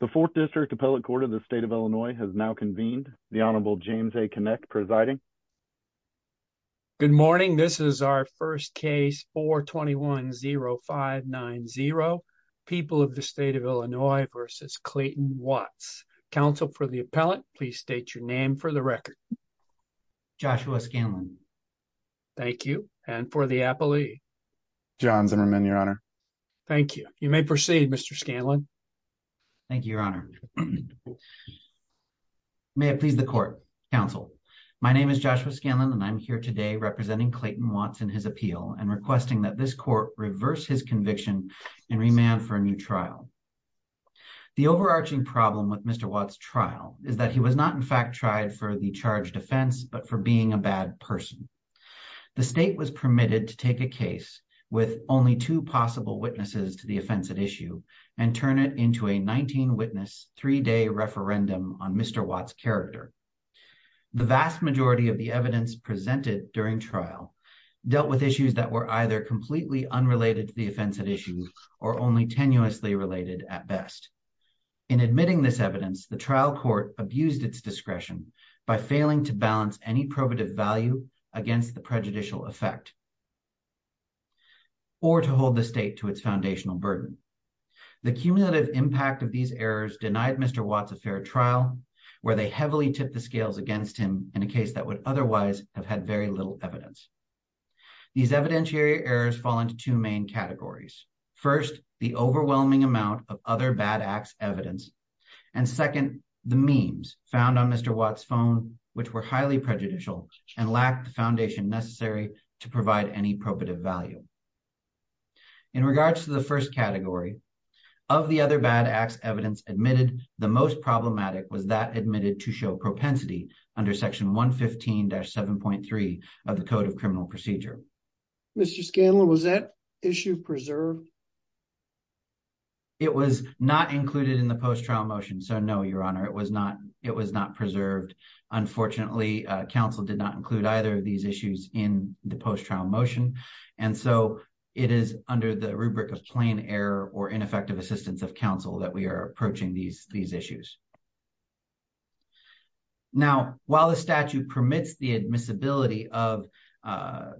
The fourth district appellate court of the state of Illinois has now convened the Honorable James a connect presiding Good morning. This is our first case for 2105 9-0 People of the state of Illinois versus Clayton Watts Council for the appellate, please state your name for the record Joshua Scanlon Thank you. And for the Apple II John Zimmerman your honor. Thank you. You may proceed. Mr. Scanlon Thank you, your honor May it please the court counsel My name is Joshua Scanlon and I'm here today representing Clayton wants in his appeal and requesting that this court reverse his conviction And remand for a new trial The overarching problem with mr. Watts trial is that he was not in fact tried for the charge defense, but for being a bad person The state was permitted to take a case with only two possible witnesses to the offensive issue and turn it into a 19 witness three-day referendum on mr. Watts character The vast majority of the evidence presented during trial Dealt with issues that were either completely unrelated to the offensive issues or only tenuously related at best in Prejudicial effect Or to hold the state to its foundational burden The cumulative impact of these errors denied. Mr Watts a fair trial where they heavily tip the scales against him in a case that would otherwise have had very little evidence these evidentiary errors fall into two main categories first the overwhelming amount of other bad acts evidence and Highly prejudicial and lacked the foundation necessary to provide any probative value in regards to the first category of The other bad acts evidence admitted the most problematic was that admitted to show propensity under section 115 dash 7.3 of the Code of Criminal Procedure Mr. Scanlon was that issue preserved? It was not included in the post trial motion, so no your honor it was not it was not preserved Unfortunately counsel did not include either of these issues in the post trial motion And so it is under the rubric of plain error or ineffective assistance of counsel that we are approaching these these issues Now while the statute permits the admissibility of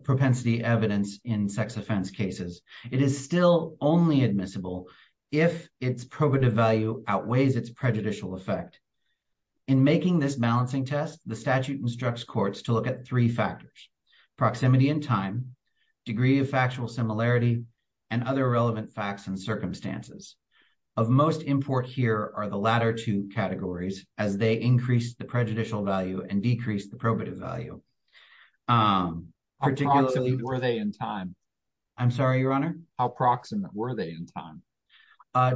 Propensity evidence in sex offense cases. It is still only admissible if its probative value outweighs its prejudicial effect in Making this balancing test the statute instructs courts to look at three factors proximity in time degree of factual similarity and other relevant facts and circumstances of Most import here are the latter two categories as they increase the prejudicial value and decrease the probative value Particularly were they in time? I'm sorry your honor. How proximate were they in time?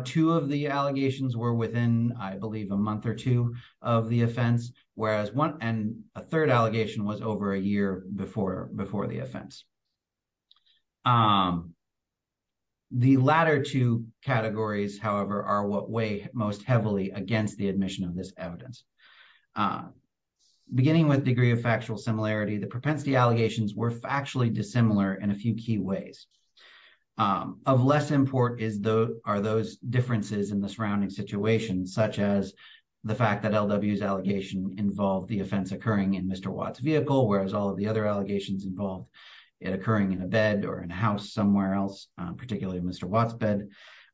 Two of the allegations were within I believe a month or two of the offense Whereas one and a third allegation was over a year before before the offense The latter two categories, however are what way most heavily against the admission of this evidence Beginning with degree of factual similarity the propensity allegations were factually dissimilar in a few key ways Of less import is though are those differences in the surrounding situation such as The fact that LW's allegation involved the offense occurring in. Mr. Watts vehicle, whereas all of the other allegations involved it occurring in a bed or in a house somewhere else particularly. Mr. Watts bed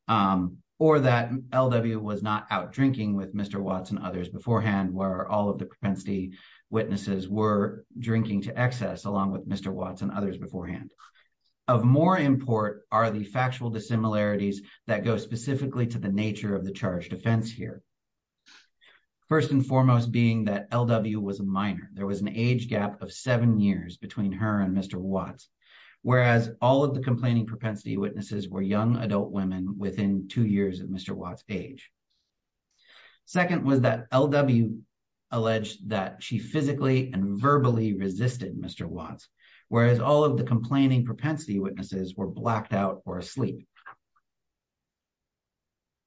Or that LW was not out drinking with. Mr. Watts and others beforehand where all of the propensity witnesses were drinking to excess along with. Mr Watts and others beforehand of more import are the factual dissimilarities that go specifically to the nature of the charge defense here First and foremost being that LW was a minor there was an age gap of seven years between her and Mr. Watts, whereas all of the complaining propensity witnesses were young adult women within two years of Mr. Watts age Second was that LW Alleged that she physically and verbally resisted. Mr. Watts, whereas all of the complaining propensity witnesses were blacked out or asleep.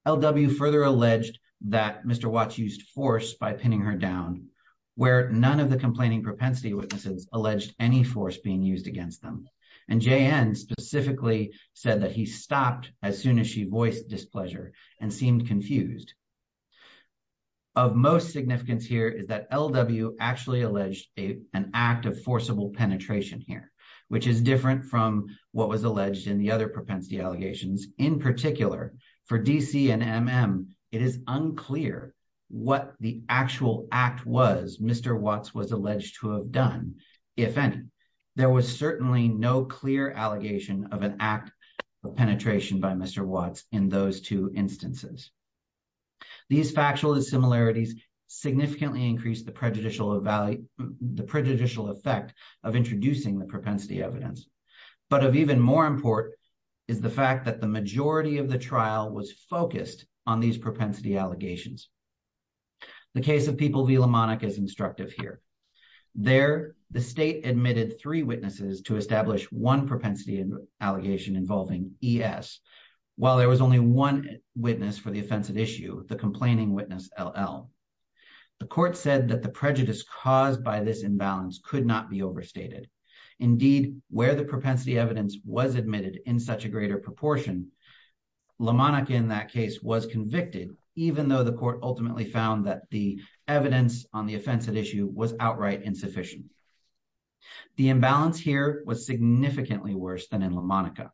LW further alleged that Mr. Watts used force by pinning her down where none of the complaining propensity witnesses alleged any force being used against them and JN specifically said that he stopped as soon as she voiced displeasure and seemed confused. Of most significance here is that LW actually alleged a an act of forcible penetration here, which is different from what was alleged in the other propensity allegations in particular for DC and mm it is unclear what the actual act was Mr. Watts was alleged to have done. If any, there was certainly no clear allegation of an act of penetration by Mr. Watts in those two instances. These factual similarities significantly increase the prejudicial value the prejudicial effect of introducing the propensity evidence, but have even more important is the fact that the majority of the trial was focused on these propensity allegations. The case of people be LW is instructive here. There, the state admitted three witnesses to establish one propensity and allegation involving ES, while there was only one witness for the offensive issue, the complaining witness LL. The court said that the prejudice caused by this imbalance could not be overstated. Indeed, where the propensity evidence was admitted in such a greater proportion LW in that case was convicted, even though the court ultimately found that the evidence on the offensive issue was outright insufficient. The imbalance here was significantly worse than in La Monica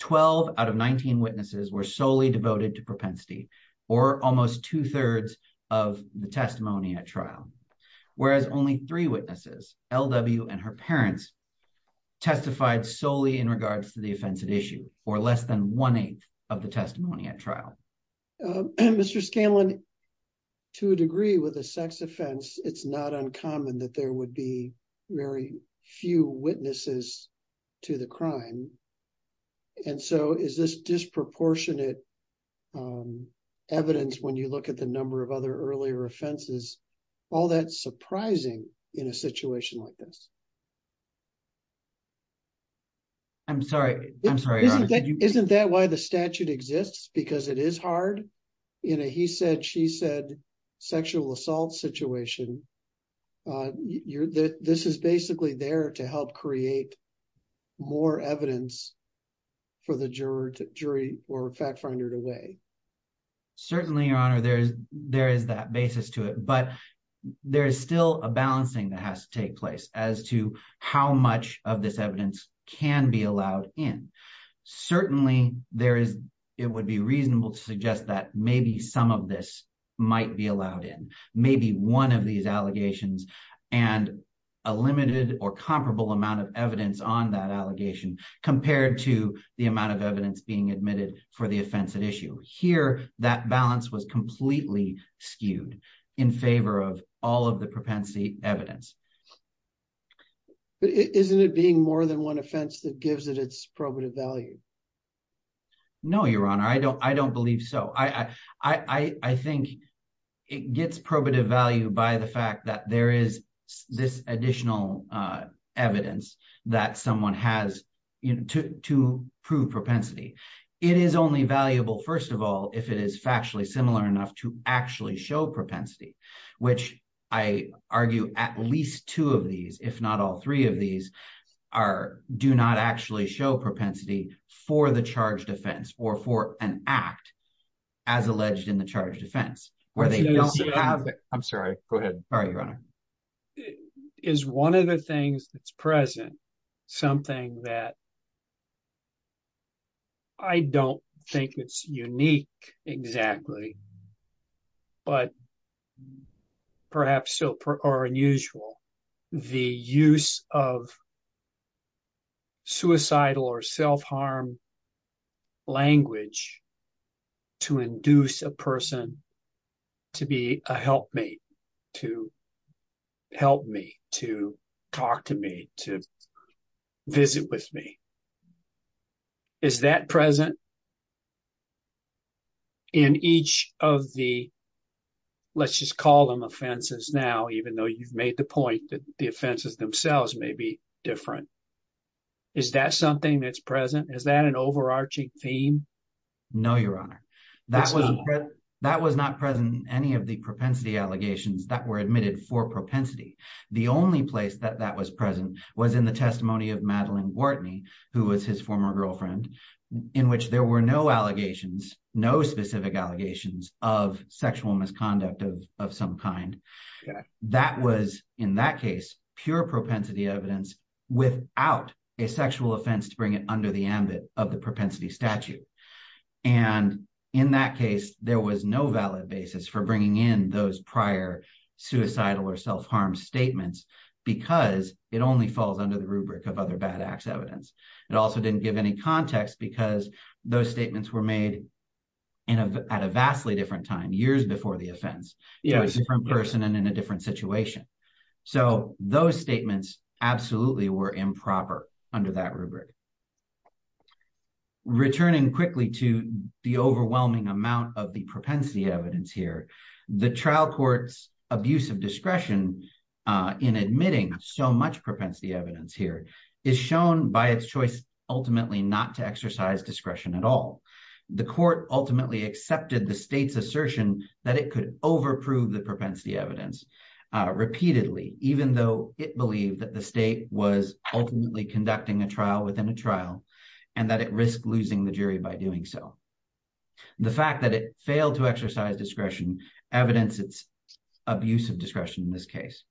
12 out of 19 witnesses were solely devoted to propensity, or almost two thirds of the testimony at trial, whereas only three witnesses LW and her parents testified solely in regards to the offensive issue, or less than one eighth of the testimony at trial, Mr Scanlon, to a degree with a sex offense, it's not uncommon that there would be. Very few witnesses to the crime. And so is this disproportionate evidence when you look at the number of other earlier offenses all that surprising in a situation like this. I'm sorry I'm sorry isn't that why the statute exists because it is hard. You know, he said she said sexual assault situation. You're this is basically there to help create more evidence for the jury jury or fact finder to way. Certainly, Your Honor, there's, there is that basis to it, but there's still a balancing that has to take place as to how much of this evidence can be allowed in. Certainly, there is, it would be reasonable to suggest that maybe some of this might be allowed in maybe one of these allegations. And a limited or comparable amount of evidence on that allegation compared to the amount of evidence being admitted for the offensive issue here that balance was completely skewed in favor of all of the propensity evidence. But isn't it being more than one offense that gives it its probative value. No, Your Honor, I don't I don't believe so I I think it gets probative value by the fact that there is this additional evidence that someone has to prove propensity. It is only valuable. First of all, if it is factually similar enough to actually show propensity, which I argue, at least two of these, if not all three of these are do not actually show propensity for the charge defense or for an act as alleged in the charge defense, where they don't have it. I'm sorry. Go ahead. All right, Your Honor, is one of the things that's present something that I don't think it's unique, exactly. But perhaps so unusual, the use of suicidal or self-harm language to induce a person to be a helpmate, to help me, to talk to me, to visit with me. Is that present in each of the let's just call them offenses now, even though you've made the point that the offenses themselves may be different, is that something that's present? Is that an overarching theme? No, Your Honor, that was that was not present. Any of the propensity allegations that were admitted for propensity, the only place that that was present was in the testimony of Madeline Wharton, who was his former girlfriend, in which there were no allegations, no specific allegations of sexual misconduct of some kind that was in that case, pure propensity evidence without a sexual offense to bring it under the ambit of the propensity statute. And in that case, there was no valid basis for bringing in those prior suicidal or self-harm statements because it only falls under the rubric of other bad acts evidence. It also didn't give any context because those statements were made at a vastly different time, years before the offense, a different person and in a different situation. So those statements absolutely were improper under that rubric. Returning quickly to the overwhelming amount of the propensity evidence here, the trial court's abuse of discretion in admitting so much propensity evidence here is shown by its choice, ultimately not to exercise discretion at all. The court ultimately accepted the state's assertion that it could overprove the propensity evidence repeatedly, even though it believed that the state was ultimately conducting a trial within a trial and that it risked losing the jury by doing so. The fact that it failed to exercise discretion evidence its abuse of discretion in this case.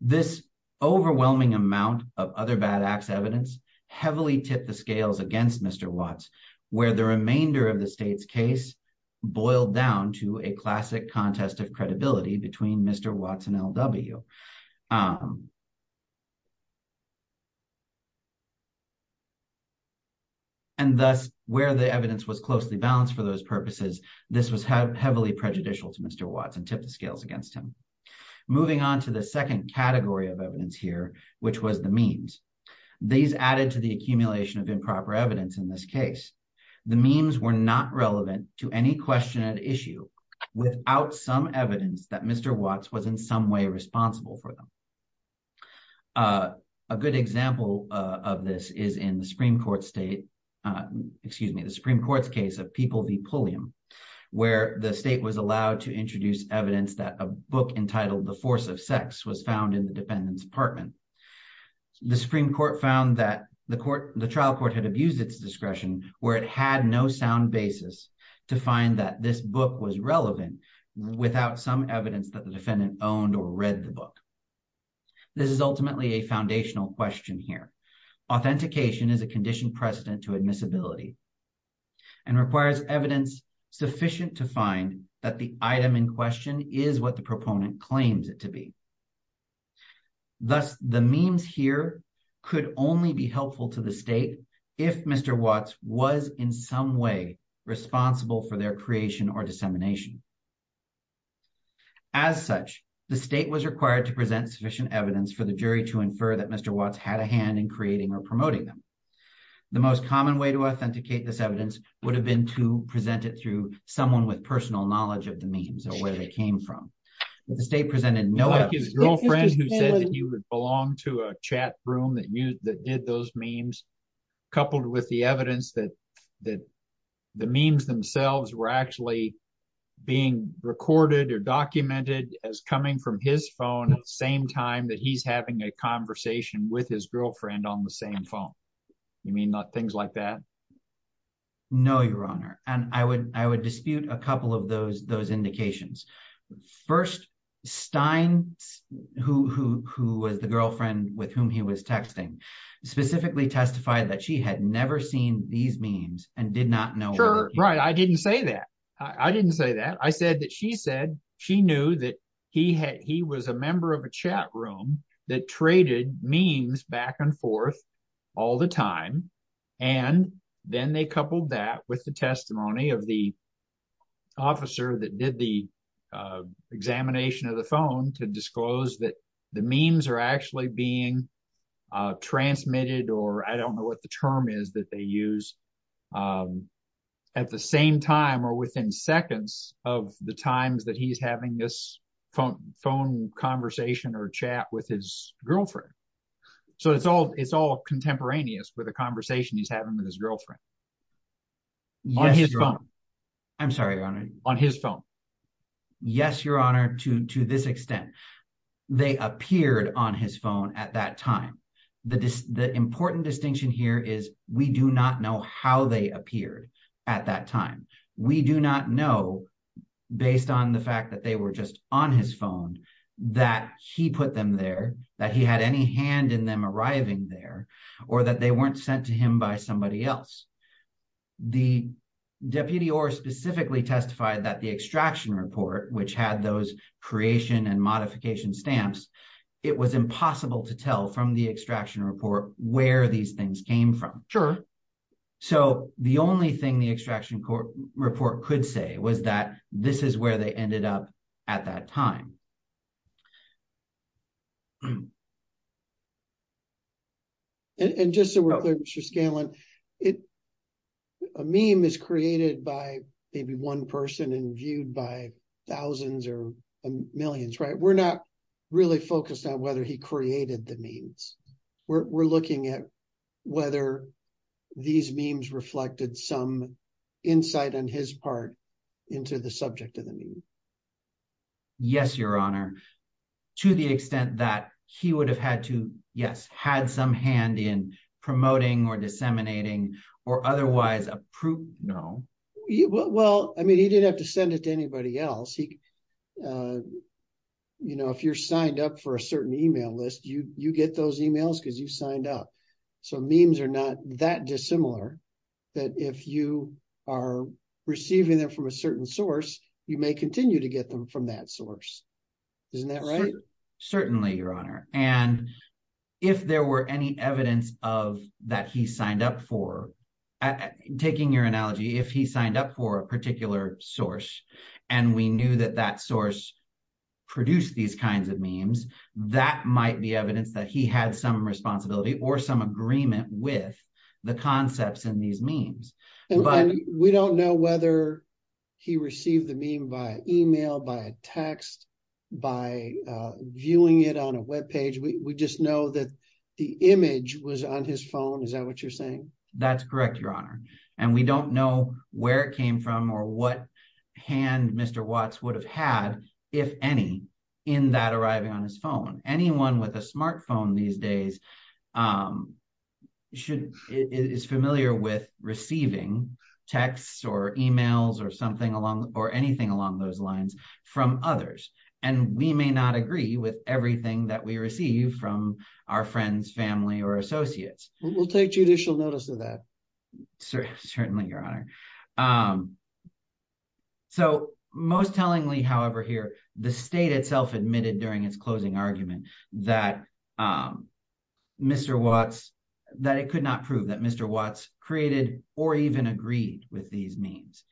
This overwhelming amount of other bad acts evidence heavily tipped the scales against Mr. Watts, where the remainder of the state's case boiled down to a classic contest of credibility between Mr. Watts and L.W. And thus, where the evidence was closely balanced for those purposes, this was heavily prejudicial to Mr. Watts and tipped the scales against him. Moving on to the second category of evidence here, which was the memes. These added to the accumulation of improper evidence in this case. The memes were not relevant to any question at issue without some evidence that Mr. Watts was in some way responsible for them. A good example of this is in the Supreme Court's case of People v. Pulliam, where the state was allowed to introduce evidence that a book entitled The Force of Sex was found in the defendant's apartment. The Supreme Court found that the trial court had abused its discretion, where it had no sound basis to find that this book was relevant without some evidence that the defendant owned or read the book. This is ultimately a foundational question here. Authentication is a conditioned precedent to admissibility and requires evidence sufficient to find that the item in question is what the proponent claims it to be. Thus, the memes here could only be helpful to the state if Mr. Watts was in some way responsible for their creation or dissemination. As such, the state was required to present sufficient evidence for the jury to infer that Mr. Watts had a hand in creating or promoting them. The most common way to authenticate this evidence would have been to present it through someone with personal knowledge of the memes or where they came from. The state presented no evidence. Like his girlfriend who said that he would belong to a chat room that did those memes, coupled with the evidence that the memes themselves were actually being recorded or documented as coming from his phone at the same time that he's having a conversation with his girlfriend on the same phone. You mean not things like that? No, Your Honor. And I would dispute a couple of those indications. First, Stein, who was the girlfriend with whom he was texting, specifically testified that she had never seen these memes and did not know. Sure. Right. I didn't say that. I didn't say that. I said that she said she knew that he had he was a member of a chat room that traded memes back and forth all the time. And then they coupled that with the testimony of the officer that did the examination of the phone to disclose that the memes are actually being transmitted or I don't know what the term is that they use at the same time or within seconds of the times that he's having this phone conversation or chat with his girlfriend. So it's all contemporaneous with a conversation he's having with his girlfriend. Yes, Your Honor. I'm sorry, Your Honor. On his phone. Yes, Your Honor, to to this extent, they appeared on his phone at that time. The important distinction here is we do not know how they appeared at that time. We do not know, based on the fact that they were just on his phone, that he put them there, that he had any hand in them arriving there or that they weren't sent to him by somebody else. The deputy or specifically testified that the extraction report, which had those creation and modification stamps. It was impossible to tell from the extraction report where these things came from. Sure, so the only thing the extraction report could say was that this is where they ended up at that time. And just so we're clear, Mr. Scanlon, a meme is created by maybe one person and viewed by thousands or millions, right? We're not really focused on whether he created the memes. We're looking at whether these memes reflected some insight on his part into the subject of the meme. Yes, Your Honor, to the extent that he would have had to, yes, had some hand in promoting or disseminating or otherwise approved. No. Well, I mean, he didn't have to send it to anybody else. You know, if you're signed up for a certain email list, you get those emails because you signed up. So memes are not that dissimilar that if you are receiving them from a certain source, you may continue to get them from that source. Isn't that right? Certainly, Your Honor. And if there were any evidence of that he signed up for, taking your analogy, if he signed up for a particular source and we knew that that source produced these kinds of memes, that might be evidence that he had some responsibility or some agreement with the concepts in these memes. We don't know whether he received the meme by email, by text, by viewing it on a web page. We just know that the image was on his phone. Is that what you're saying? That's correct, Your Honor. And we don't know where it came from or what hand Mr. Watts would have had, if any, in that arriving on his phone. Anyone with a smartphone these days is familiar with receiving texts or emails or something along or anything along those lines from others. And we may not agree with everything that we receive from our friends, family or associates. We'll take judicial notice of that. Certainly, Your Honor. So, most tellingly, however, here, the state itself admitted during its closing argument that Mr. Watts, that it could not prove that Mr. Watts created or even agreed with these memes.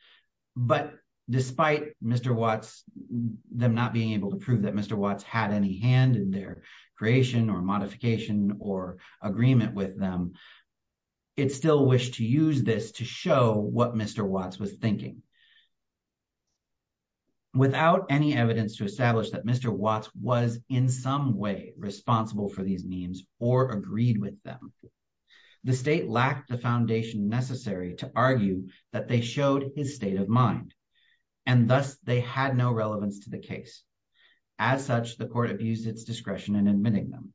But despite Mr. Watts, them not being able to prove that Mr. Watts had any hand in their creation or modification or agreement with them, it still wished to use this to show what Mr. Watts was thinking. Without any evidence to establish that Mr. Watts was in some way responsible for these memes or agreed with them, the state lacked the foundation necessary to argue that they showed his state of mind. And thus, they had no relevance to the case. As such, the court abused its discretion in admitting them.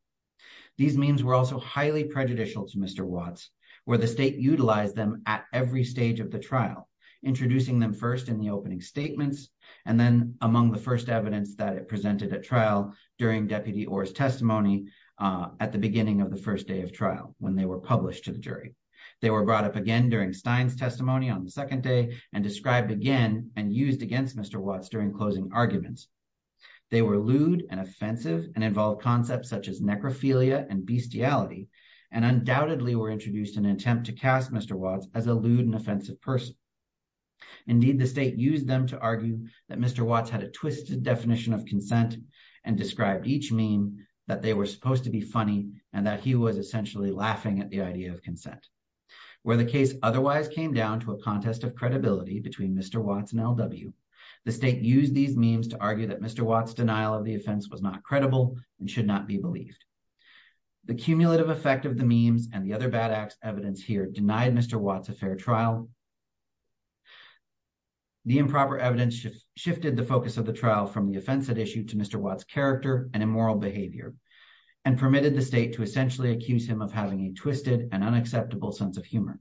These memes were also highly prejudicial to Mr. Watts, where the state utilized them at every stage of the trial, introducing them first in the opening statements, and then among the first evidence that it presented at trial during Deputy Orr's testimony at the beginning of the first day of trial when they were published to the jury. They were brought up again during Stein's testimony on the second day and described again and used against Mr. Watts during closing arguments. They were lewd and offensive and involved concepts such as necrophilia and bestiality, and undoubtedly were introduced in an attempt to cast Mr. Watts as a lewd and offensive person. Indeed, the state used them to argue that Mr. Watts had a twisted definition of consent and described each meme that they were supposed to be funny and that he was essentially laughing at the idea of consent. Where the case otherwise came down to a contest of credibility between Mr. Watts and LW, the state used these memes to argue that Mr. Watts' denial of the offense was not credible and should not be believed. The cumulative effect of the memes and the other bad-ass evidence here denied Mr. Watts a fair trial. The improper evidence shifted the focus of the trial from the offense it issued to Mr. Watts' character and immoral behavior, and permitted the state to essentially accuse him of having a twisted and unacceptable sense of humor.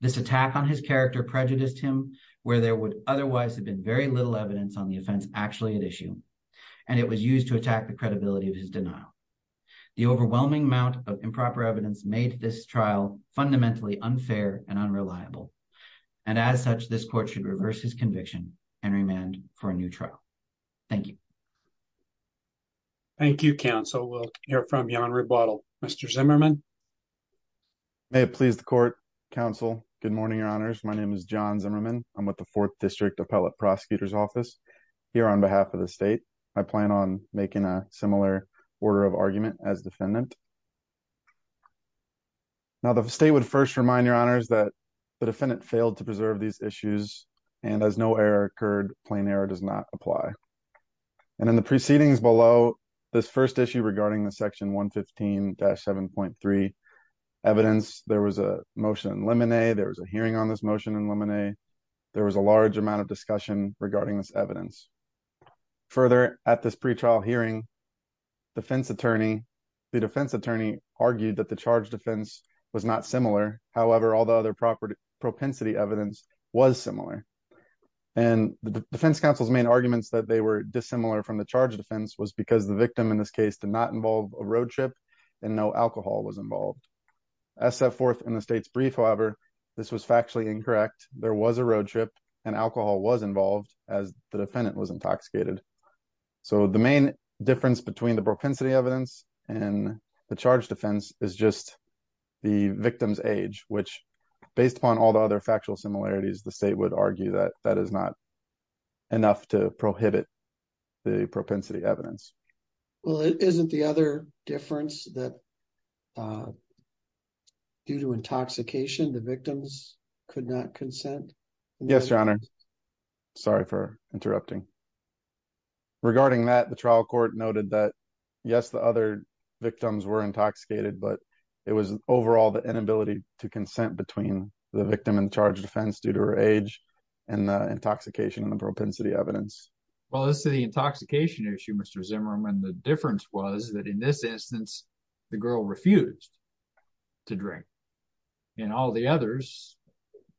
This attack on his character prejudiced him where there would otherwise have been very little evidence on the offense actually at issue, and it was used to attack the credibility of his denial. The overwhelming amount of improper evidence made this trial fundamentally unfair and unreliable, and as such, this court should reverse his conviction and remand for a new trial. Thank you. Thank you, counsel. We'll hear from you on rebuttal. Mr. Zimmerman. May it please the court, counsel. Good morning, your honors. My name is John Zimmerman. I'm with the Fourth District Appellate Prosecutor's Office. Here on behalf of the state, I plan on making a similar order of argument as defendant. Now, the state would first remind your honors that the defendant failed to preserve these issues, and as no error occurred, plain error does not apply. And in the proceedings below, this first issue regarding the Section 115-7.3 evidence, there was a motion in limine. There was a hearing on this motion in limine. There was a large amount of discussion regarding this evidence. Further, at this pretrial hearing, the defense attorney argued that the charge defense was not similar. However, all the other propensity evidence was similar. And the defense counsel's main arguments that they were dissimilar from the charge defense was because the victim in this case did not involve a road trip, and no alcohol was involved. As set forth in the state's brief, however, this was factually incorrect. There was a road trip, and alcohol was involved as the defendant was intoxicated. So the main difference between the propensity evidence and the charge defense is just the victim's age, which, based upon all the other factual similarities, the state would argue that that is not enough to prohibit the propensity evidence. Well, isn't the other difference that due to intoxication, the victims could not consent? Yes, Your Honor. Sorry for interrupting. Regarding that, the trial court noted that, yes, the other victims were intoxicated, but it was overall the inability to consent between the victim and the charge defense due to her age and the intoxication and the propensity evidence. Well, as to the intoxication issue, Mr. Zimmerman, the difference was that in this instance, the girl refused to drink. In all the others,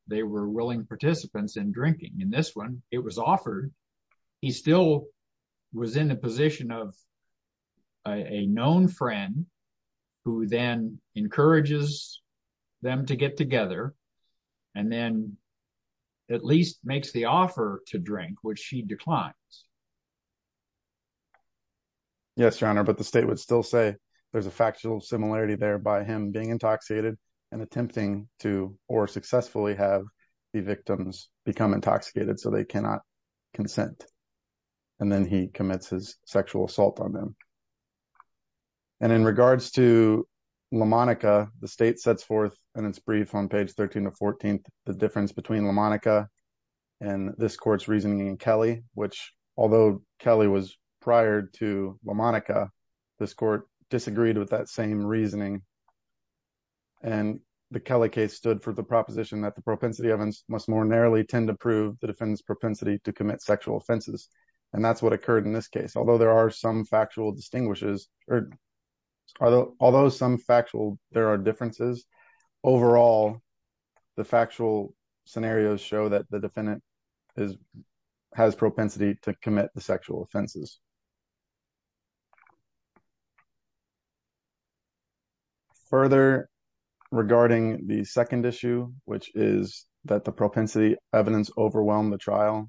they were willing participants in drinking. In this one, it was offered. He still was in the position of a known friend who then encourages them to get together and then at least makes the offer to drink, which she declines. Yes, Your Honor, but the state would still say there's a factual similarity there by him being intoxicated and attempting to, or successfully have the victims become intoxicated so they cannot consent. And then he commits his sexual assault on them. And in regards to LaMonica, the state sets forth in its brief on page 13 to 14, the difference between LaMonica and this court's reasoning in Kelly, which, although Kelly was prior to LaMonica, this court disagreed with that same reasoning. And the Kelly case stood for the proposition that the propensity evidence must more narrowly to prove the defendant's propensity to commit sexual offenses. And that's what occurred in this case. Although there are some factual distinguishes, or although some factual, there are differences overall, the factual scenarios show that the defendant has propensity to commit the sexual offenses. Further, regarding the second issue, which is that the propensity evidence overwhelm the trial.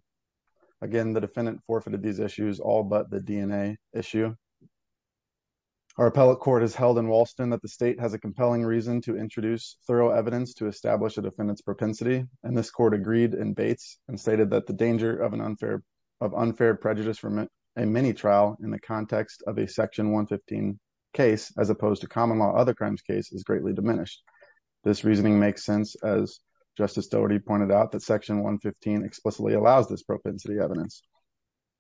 Again, the defendant forfeited these issues all but the DNA issue. Our appellate court has held in Walston that the state has a compelling reason to introduce thorough evidence to establish the defendant's propensity. And this court agreed and Bates and stated that the danger of an unfair of unfair prejudice from a male defendant in the context of a section 115 case, as opposed to common law, other crimes case is greatly diminished. This reasoning makes sense as Justice Doherty pointed out that section 115 explicitly allows this propensity evidence.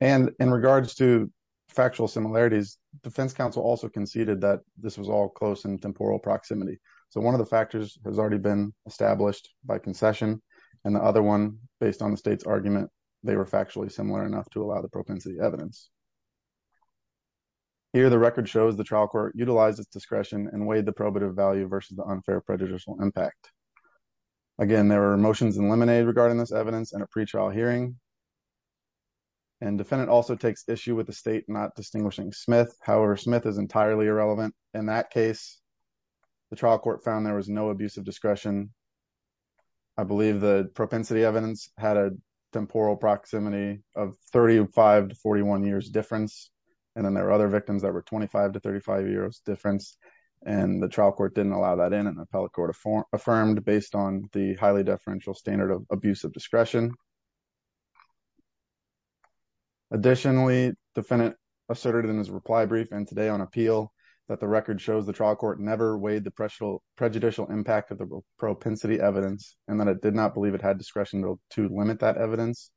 And in regards to factual similarities, defense counsel also conceded that this was all close and temporal proximity. So one of the factors has already been established by concession. And the other one, based on the state's argument, they were factually similar enough to allow the propensity evidence. Here, the record shows the trial court utilized its discretion and weighed the probative value versus the unfair prejudicial impact. Again, there were motions eliminated regarding this evidence and a pretrial hearing. And defendant also takes issue with the state not distinguishing Smith. However, Smith is entirely irrelevant. In that case, the trial court found there was no abuse of discretion. I believe the propensity evidence had a temporal proximity of 35 to 41 years difference. And then there were other victims that were 25 to 35 years difference. And the trial court didn't allow that in an appellate court of form affirmed based on the highly deferential standard of abuse of discretion. Additionally, defendant asserted in his reply brief and today on appeal that the record shows the trial court never weighed the pressure of prejudicial impact of the propensity evidence and that it did not believe it had discretion to limit that evidence.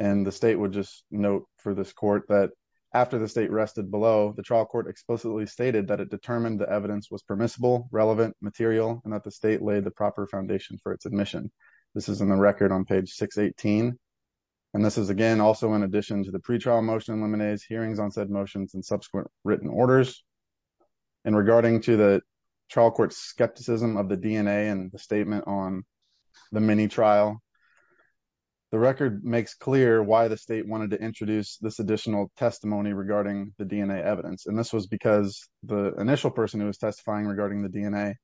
And the state would just note for this court that after the state rested below, the trial court explicitly stated that it determined the evidence was permissible, relevant, material, and that the state laid the proper foundation for its admission. This is in the record on page 618. And this is again, also in addition to the pretrial motion and liminese hearings on said motions and subsequent written orders. And regarding to the trial court skepticism of the DNA and the statement on the mini trial, the record makes clear why the state wanted to introduce this additional testimony regarding the DNA evidence. And this was because the initial person who was testifying regarding the DNA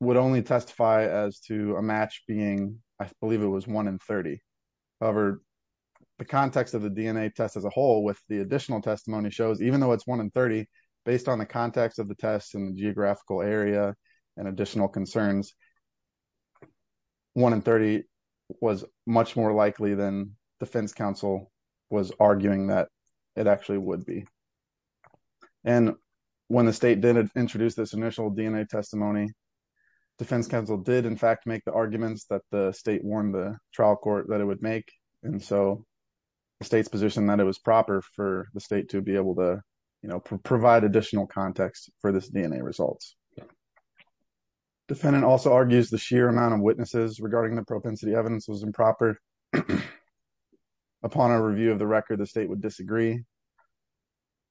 would only testify as to a match being, I believe it was one in 30. However, the context of the DNA test as a whole with the additional testimony shows, even though it's one in 30, based on the context of the test and the geographical area and additional concerns, one in 30 was much more likely than defense counsel was arguing that it actually would be. And when the state did introduce this initial DNA testimony, defense counsel did in fact make the arguments that the state warned the trial court that it would make. And so the state's proposition that it was proper for the state to be able to provide additional context for this DNA results. Defendant also argues the sheer amount of witnesses regarding the propensity evidence was improper. Upon our review of the record, the state would disagree.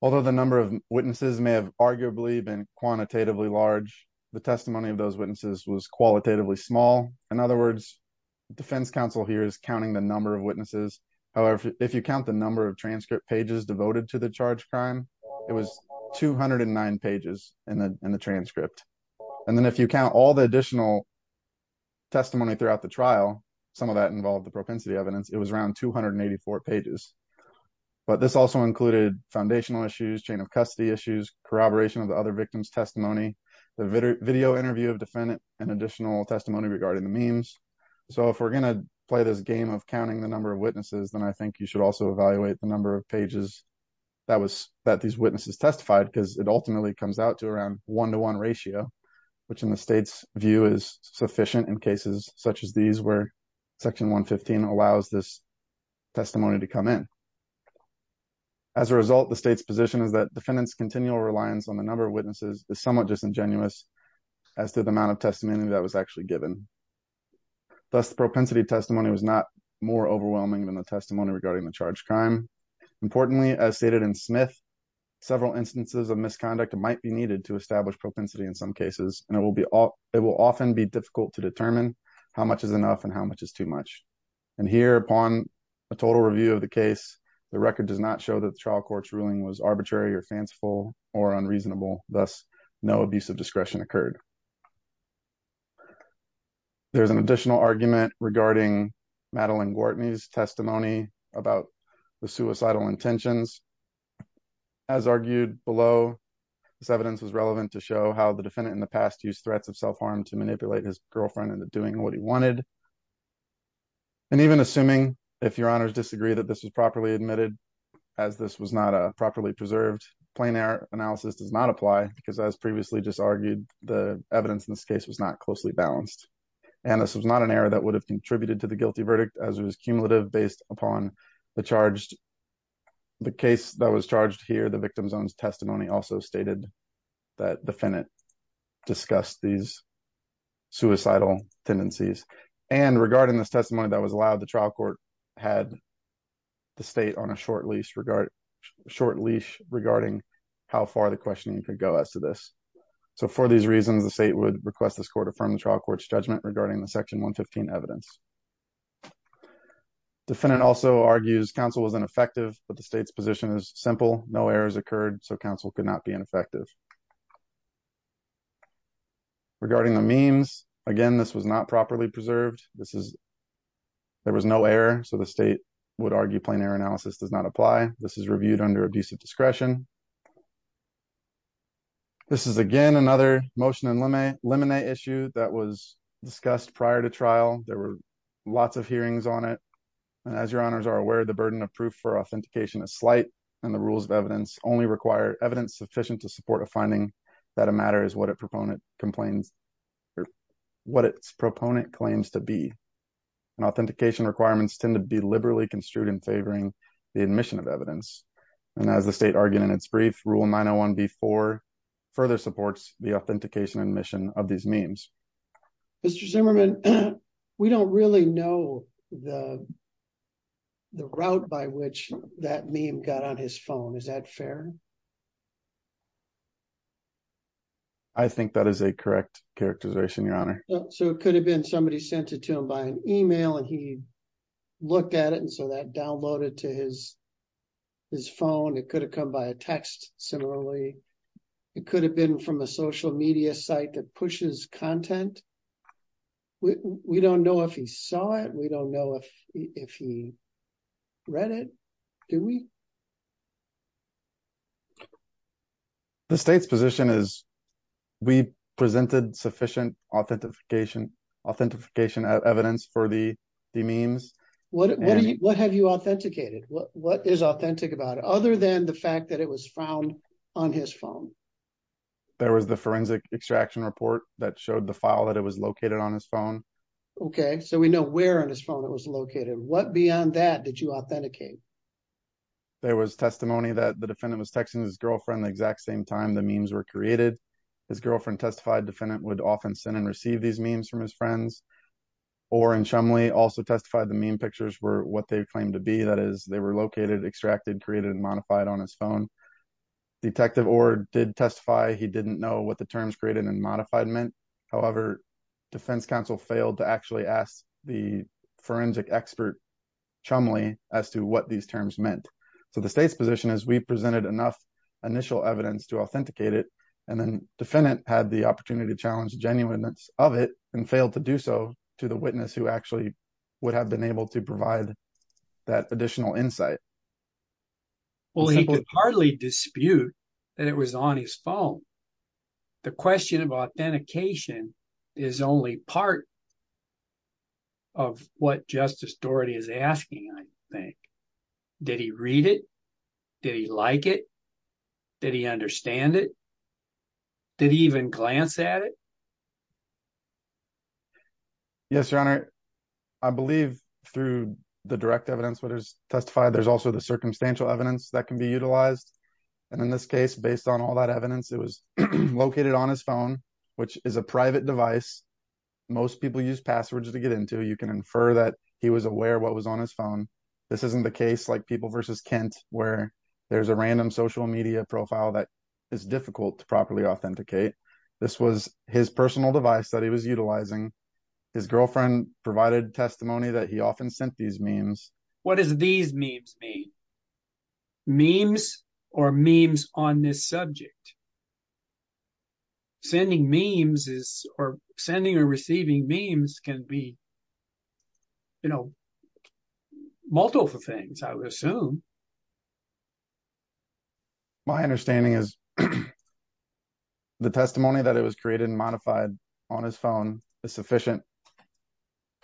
Although the number of witnesses may have arguably been quantitatively large, the testimony of those witnesses was qualitatively small. In other words, defense counsel here is counting the number of witnesses. However, if you count the number of transcript pages devoted to the charge crime, it was 209 pages in the transcript. And then if you count all the additional testimony throughout the trial, some of that involved the propensity evidence, it was around 284 pages. But this also included foundational issues, chain of custody issues, corroboration of the other victims testimony, the video interview of defendant and additional testimony regarding the memes. So if we're going to play this game of counting the number of witnesses, then I think you should also evaluate the number of pages that was that these witnesses testified because it ultimately comes out to around one to one ratio, which in the state's view is sufficient in cases such as these where section 115 allows this testimony to come in. As a result, the state's position is that defendants continual reliance on the number of witnesses is somewhat disingenuous as to the amount of testimony was not more overwhelming than the testimony regarding the charge crime. Importantly, as stated in Smith, several instances of misconduct might be needed to establish propensity in some cases, and it will be all it will often be difficult to determine how much is enough and how much is too much. And here upon a total review of the case, the record does not show that the trial court's ruling was arbitrary or fanciful or unreasonable. Thus, no abuse of discretion occurred. There's an additional argument regarding Madeline Gortney's testimony about the suicidal intentions. As argued below, this evidence was relevant to show how the defendant in the past used threats of self-harm to manipulate his girlfriend into doing what he wanted. And even assuming if your honors disagree that this was properly admitted, as this was not a properly preserved, plain error analysis does not apply because as previously just argued, the evidence in this case was not closely balanced. And this was not an error that would have contributed to the guilty verdict as it was cumulative based upon the charge. The case that was charged here, the victim's own testimony also stated that defendant discussed these suicidal tendencies. And regarding this testimony that was allowed, the trial court had the state on a short leash regarding how far the questioning could go as to this. So for these reasons, the state would request this court affirm the trial court's judgment regarding the section 115 evidence. Defendant also argues counsel was ineffective, but the state's position is simple. No errors occurred, so counsel could not be ineffective. Regarding the memes, again, this was not properly preserved. There was no error, so the state would argue plain error analysis does not apply. This is reviewed under abusive discretion. This is, again, another motion and laminate issue that was discussed prior to trial. There were lots of hearings on it. And as your honors are aware, the burden of proof for authentication is slight, and the rules of evidence only require evidence sufficient to support a finding that a matter is what a proponent complains or what its proponent claims to be. And authentication requirements tend to be liberally construed in favoring admission of evidence. And as the state argued in its brief, rule 901b4 further supports the authentication and admission of these memes. Mr. Zimmerman, we don't really know the route by which that meme got on his phone. Is that fair? I think that is a correct characterization, your honor. So it could have been somebody sent it to by an email and he looked at it and so that downloaded to his phone. It could have come by a text, similarly. It could have been from a social media site that pushes content. We don't know if he saw it. We don't know if he read it. Do we? The state's position is we presented sufficient authentication, authentication evidence for the memes. What have you authenticated? What is authentic about it, other than the fact that it was found on his phone? There was the forensic extraction report that showed the file that it was located on his phone. Okay, so we know where on his phone it was located. What beyond that did you authenticate? There was testimony that the defendant was texting his girlfriend the exact same time the memes were created. His girlfriend testified the defendant would often send and receive these memes from his friends. Orr and Shumley also testified the meme pictures were what they claimed to be. That is, they were located, extracted, created, and modified on his phone. Detective Orr did testify he didn't know what the terms created and modified meant. However, defense counsel failed to actually ask the forensic expert, Shumley, as to what these terms meant. So the state's position is we presented enough initial evidence to authenticate it, and then the defendant had the opportunity to challenge the genuineness of it and failed to do so to the witness who actually would have been able to provide that additional insight. Well, he could hardly dispute that it was on his phone. The question about authentication is only part of what Justice Doherty is asking, I think. Did he read it? Did he like it? Did he understand it? Did he even glance at it? Yes, Your Honor. I believe through the direct evidence that is testified, there's also the circumstantial evidence that can be utilized. And in this case, based on all that evidence, it was located on his phone, which is a private device. Most people use passwords to get into. You can infer that he was aware what was on his phone. This isn't the case like people versus Kent, where there's a random social media profile that is difficult to properly authenticate. This was his personal device that he was utilizing. His girlfriend provided testimony that he often sent these memes. What does these memes mean? Memes or memes on this subject? Sending memes is or sending or receiving memes can be, you know, multiple things, I would assume. My understanding is the testimony that it was created and modified on his phone is sufficient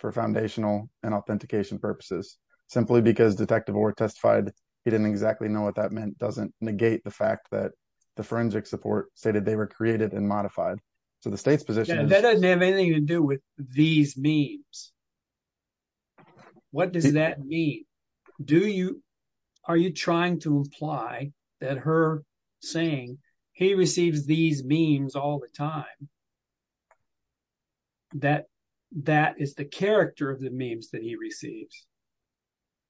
for foundational and authentication purposes, simply because Detective Orr testified he didn't exactly know what that meant doesn't negate the fact that the forensic support stated they were created and modified to the state's position. That doesn't have anything to do with these memes. What does that mean? Are you trying to imply that her saying he receives these memes all the time, that that is the character of the memes that he receives?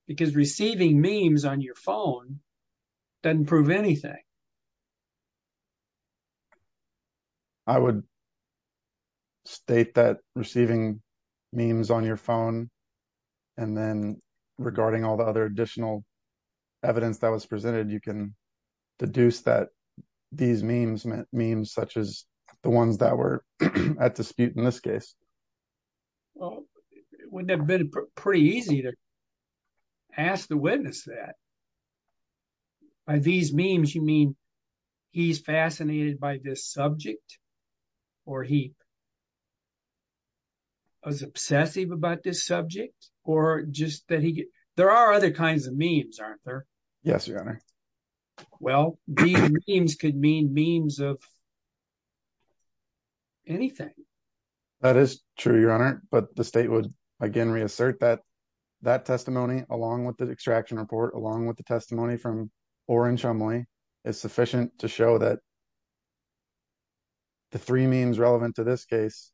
Because receiving memes on your phone doesn't prove anything. I would state that receiving memes on your phone and then regarding all the other additional evidence that was presented, you can deduce that these memes meant memes such as the ones that were at dispute in this case. Well, it would have been pretty easy to ask the witness that. By these memes, you mean he's fascinated by this subject or he was obsessive about this subject or just that he there are other kinds of memes, aren't there? Yes, your honor. Well, these memes could mean memes of anything. That is true, your honor. But the state would again reassert that that testimony along with the extraction report, along with the testimony from Oren Shumley is sufficient to show that the three memes relevant to this case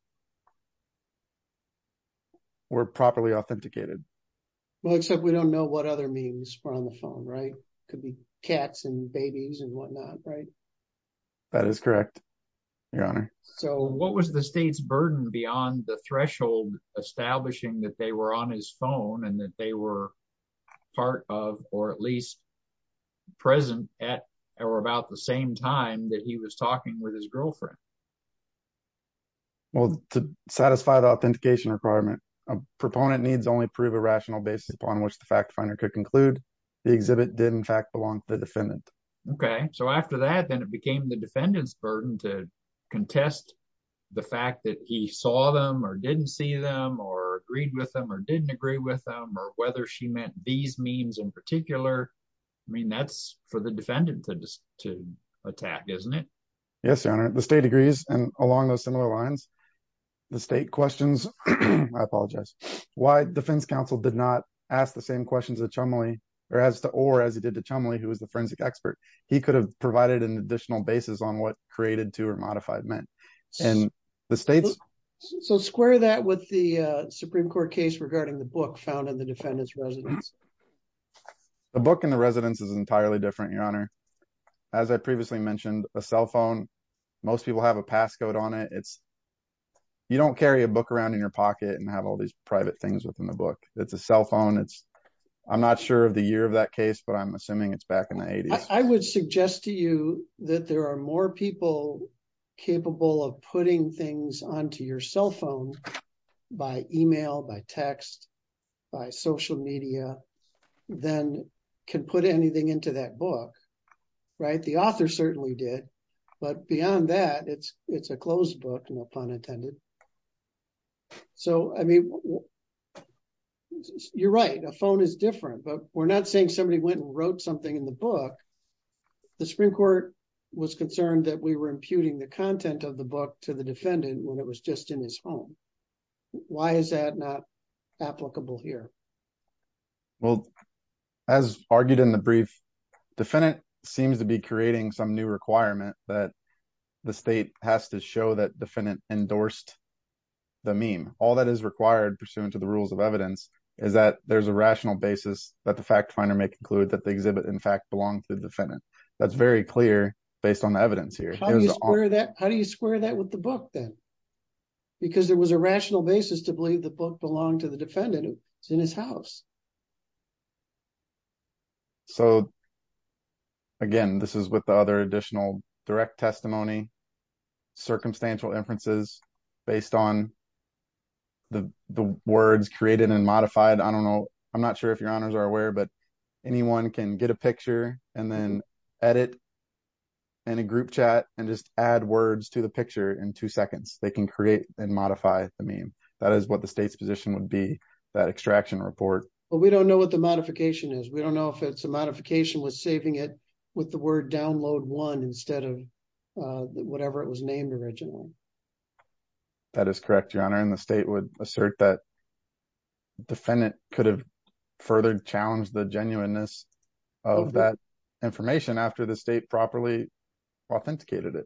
were properly authenticated. Well, except we don't know what other memes were on the phone, right? It could be cats and babies and whatnot, right? That is correct, your honor. So what was the state's burden beyond the threshold establishing that they were on his phone and that they were part of or at least present at or about the same time that he was talking with his girlfriend? Well, to satisfy the authentication requirement, a proponent needs only prove a rational basis upon which the fact finder could conclude the exhibit did in fact belong to the defendant. Okay. So after that, then it became the defendant's didn't agree with them, or whether she meant these memes in particular. I mean, that's for the defendant to attack, isn't it? Yes, your honor. The state agrees. And along those similar lines, the state questions, I apologize, why defense counsel did not ask the same questions that Shumley or as to or as he did to Shumley, who was the forensic expert, he could have provided an additional basis on what created to or modified meant. And the states... The Supreme Court case regarding the book found in the defendant's residence. The book in the residence is entirely different, your honor. As I previously mentioned, a cell phone, most people have a passcode on it. You don't carry a book around in your pocket and have all these private things within the book. It's a cell phone. I'm not sure of the year of that case, but I'm assuming it's back in the 80s. I would suggest to you that there are more people capable of putting things onto your cell phone by email, by text, by social media, than can put anything into that book, right? The author certainly did. But beyond that, it's a closed book, no pun intended. So, I mean, you're right. A phone is different, but we're not saying somebody went and wrote something in the book. The Supreme Court was concerned that we were imputing the content of the book to the defendant when it was just in his home. Why is that not applicable here? Well, as argued in the brief, defendant seems to be creating some new requirement that the state has to show that defendant endorsed the meme. All that is required pursuant to the rules of evidence is that there's a rational basis that the fact finder may conclude that the exhibit in fact belongs to the defendant. That's very clear based on the evidence here. How do you square that with the book then? Because there was a rational basis to believe the book belonged to the defendant who was in his house. So, again, this is with the other additional direct testimony, circumstantial inferences based on the words created and modified. I don't know. I'm not sure if that's correct. The state's position is that you can get a picture and then edit in a group chat and just add words to the picture in two seconds. They can create and modify the meme. That is what the state's position would be, that extraction report. But we don't know what the modification is. We don't know if it's a modification with saving it with the word download one instead of whatever it was named originally. That is correct, your honor, and the state would assert that defendant could have further challenged the genuineness of that information after the state properly authenticated it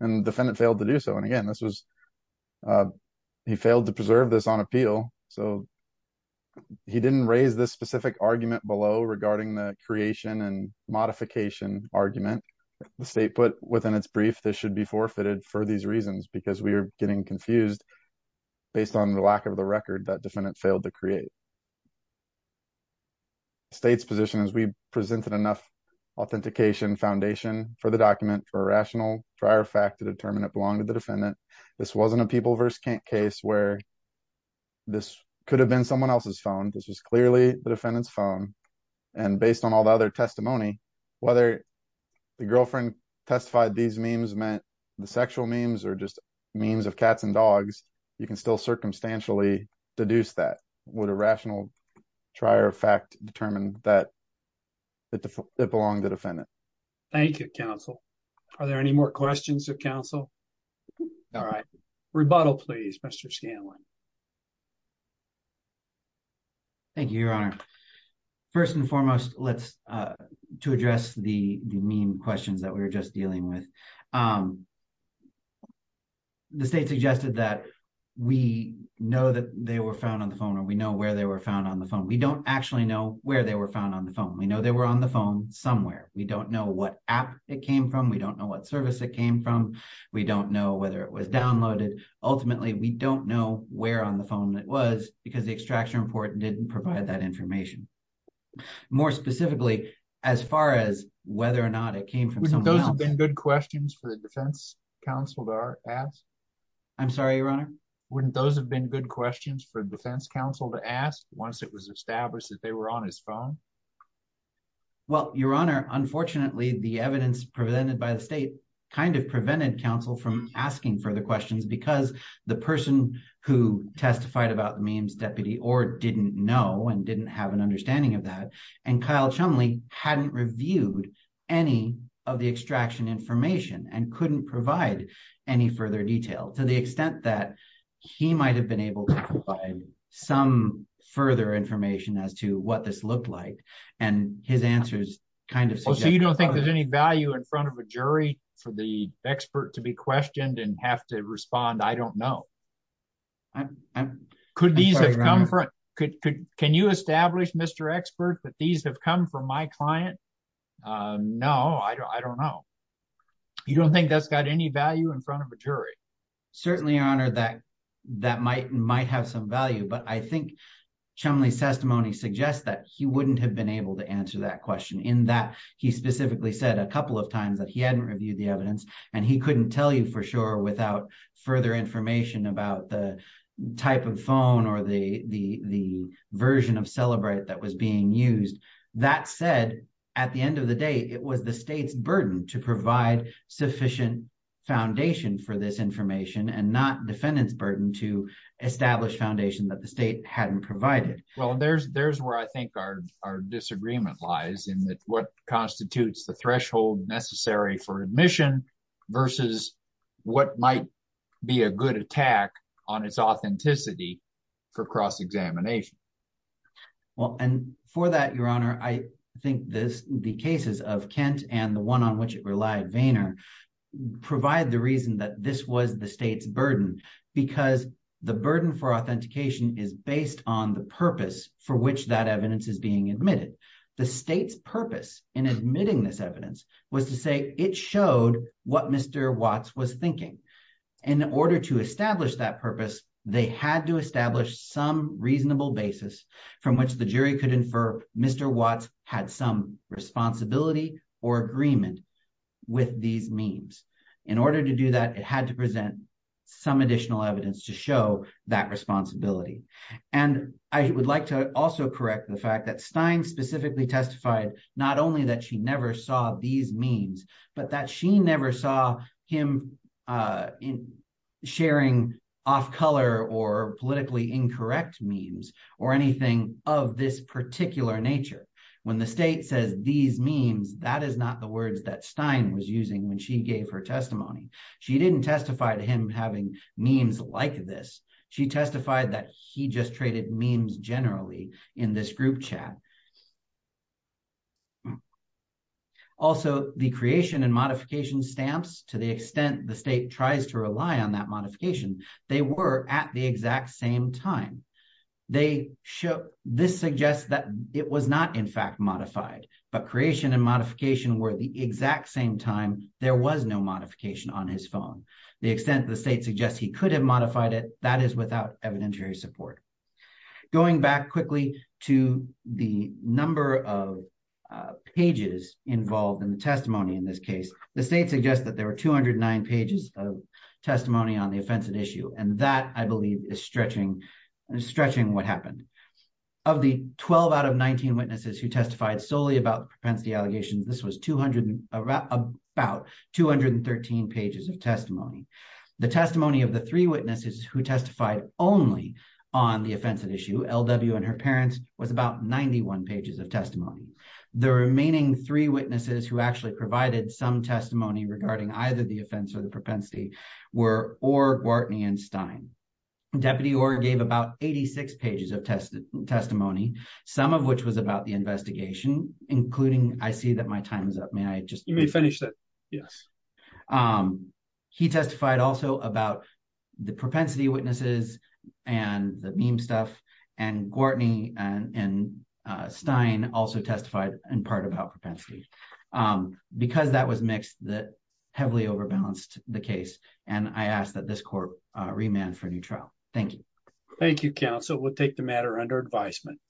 and the defendant failed to do so. And again, he failed to preserve this on appeal, so he didn't raise this specific argument below regarding the creation and modification argument. The state put within its brief this should be forfeited for these reasons because we are getting confused based on the lack of the record that defendant failed to create. The state's position is we presented enough authentication foundation for the document for rational prior fact to determine it belonged to the defendant. This wasn't a people versus case where this could have been someone else's phone. This was clearly the defendant's phone. And based on all the other testimony, whether the girlfriend testified these memes meant the sexual memes or memes of cats and dogs, you can still circumstantially deduce that. Would a rational prior fact determine that it belonged to the defendant? Thank you, counsel. Are there any more questions of counsel? All right. Rebuttal, please, Mr. Scanlon. Thank you, your honor. First and foremost, to address the meme questions that we were just the state suggested that we know that they were found on the phone or we know where they were found on the phone. We don't actually know where they were found on the phone. We know they were on the phone somewhere. We don't know what app it came from. We don't know what service it came from. We don't know whether it was downloaded. Ultimately, we don't know where on the phone it was because the extraction report didn't provide that information. More specifically, as far as whether or not it came from those have been good questions for the defense counsel to ask. I'm sorry, your honor. Wouldn't those have been good questions for defense counsel to ask once it was established that they were on his phone? Well, your honor, unfortunately, the evidence presented by the state kind of prevented counsel from asking further questions because the person who testified about the memes deputy or didn't know and didn't have an understanding of that. And Kyle Chumlee hadn't reviewed any of the extraction information and couldn't provide any further detail to the extent that he might have been able to provide some further information as to what this looked like. And his answer is kind of so you don't think there's any value in front of a jury for the expert to be questioned and have to respond? I don't know. Could these have come from? Can you establish, Mr. Expert, that these have come from my client? No, I don't know. You don't think that's got any value in front of a jury? Certainly, your honor, that that might might have some value, but I think Chumlee's testimony suggests that he wouldn't have been able to answer that question in that he specifically said a couple of times that he hadn't reviewed the evidence and he couldn't tell you for sure without further information about the type of phone or the version of at the end of the day, it was the state's burden to provide sufficient foundation for this information and not defendant's burden to establish foundation that the state hadn't provided. Well, there's there's where I think our our disagreement lies in that what constitutes the threshold necessary for admission versus what might be a good attack on its authenticity for cross-examination. Well, and for that, your honor, I think this the cases of Kent and the one on which it relied, Vayner, provide the reason that this was the state's burden because the burden for authentication is based on the purpose for which that evidence is being admitted. The state's purpose in admitting this evidence was to say it showed what Mr. Watts was thinking. In order to establish that purpose, they had to establish some reasonable basis from which the jury could infer Mr. Watts had some responsibility or agreement with these memes. In order to do that, it had to present some additional evidence to show that responsibility. And I would like to also correct the fact that Stein specifically testified not only that she never saw him sharing off-color or politically incorrect memes or anything of this particular nature. When the state says these memes, that is not the words that Stein was using when she gave her testimony. She didn't testify to him having memes like this. She testified that he just traded memes generally in this group chat. Also, the creation and modification stamps, to the extent the state tries to rely on that modification, they were at the exact same time. This suggests that it was not, in fact, modified, but creation and modification were the exact same time there was no modification on his phone. The extent the state suggests he could have modified it, that is without evidentiary support. Going back quickly to the number of pages involved in the testimony in this case, the state suggests that there were 209 pages of testimony on the offensive issue. And that, I believe, is stretching what happened. Of the 12 out of 19 witnesses who testified solely about propensity allegations, this was about 213 pages of testimony. The testimony of the three witnesses who testified only on the offensive issue, LW and her parents, was about 91 pages of testimony. The remaining three witnesses who actually provided some testimony regarding either the offense or the propensity were Orr, Gwartney, and Stein. Deputy Orr gave about 86 pages of testimony, some of which was about the investigation, including, I see that my time is up. May I just finish that? Yes. He testified also about the propensity witnesses and the meme stuff. And Gwartney and Stein also testified in part about propensity. Because that was mixed, that heavily overbalanced the case. And I ask that this court remand for a new trial. Thank you. Thank you, counsel. We'll take the matter under advisement.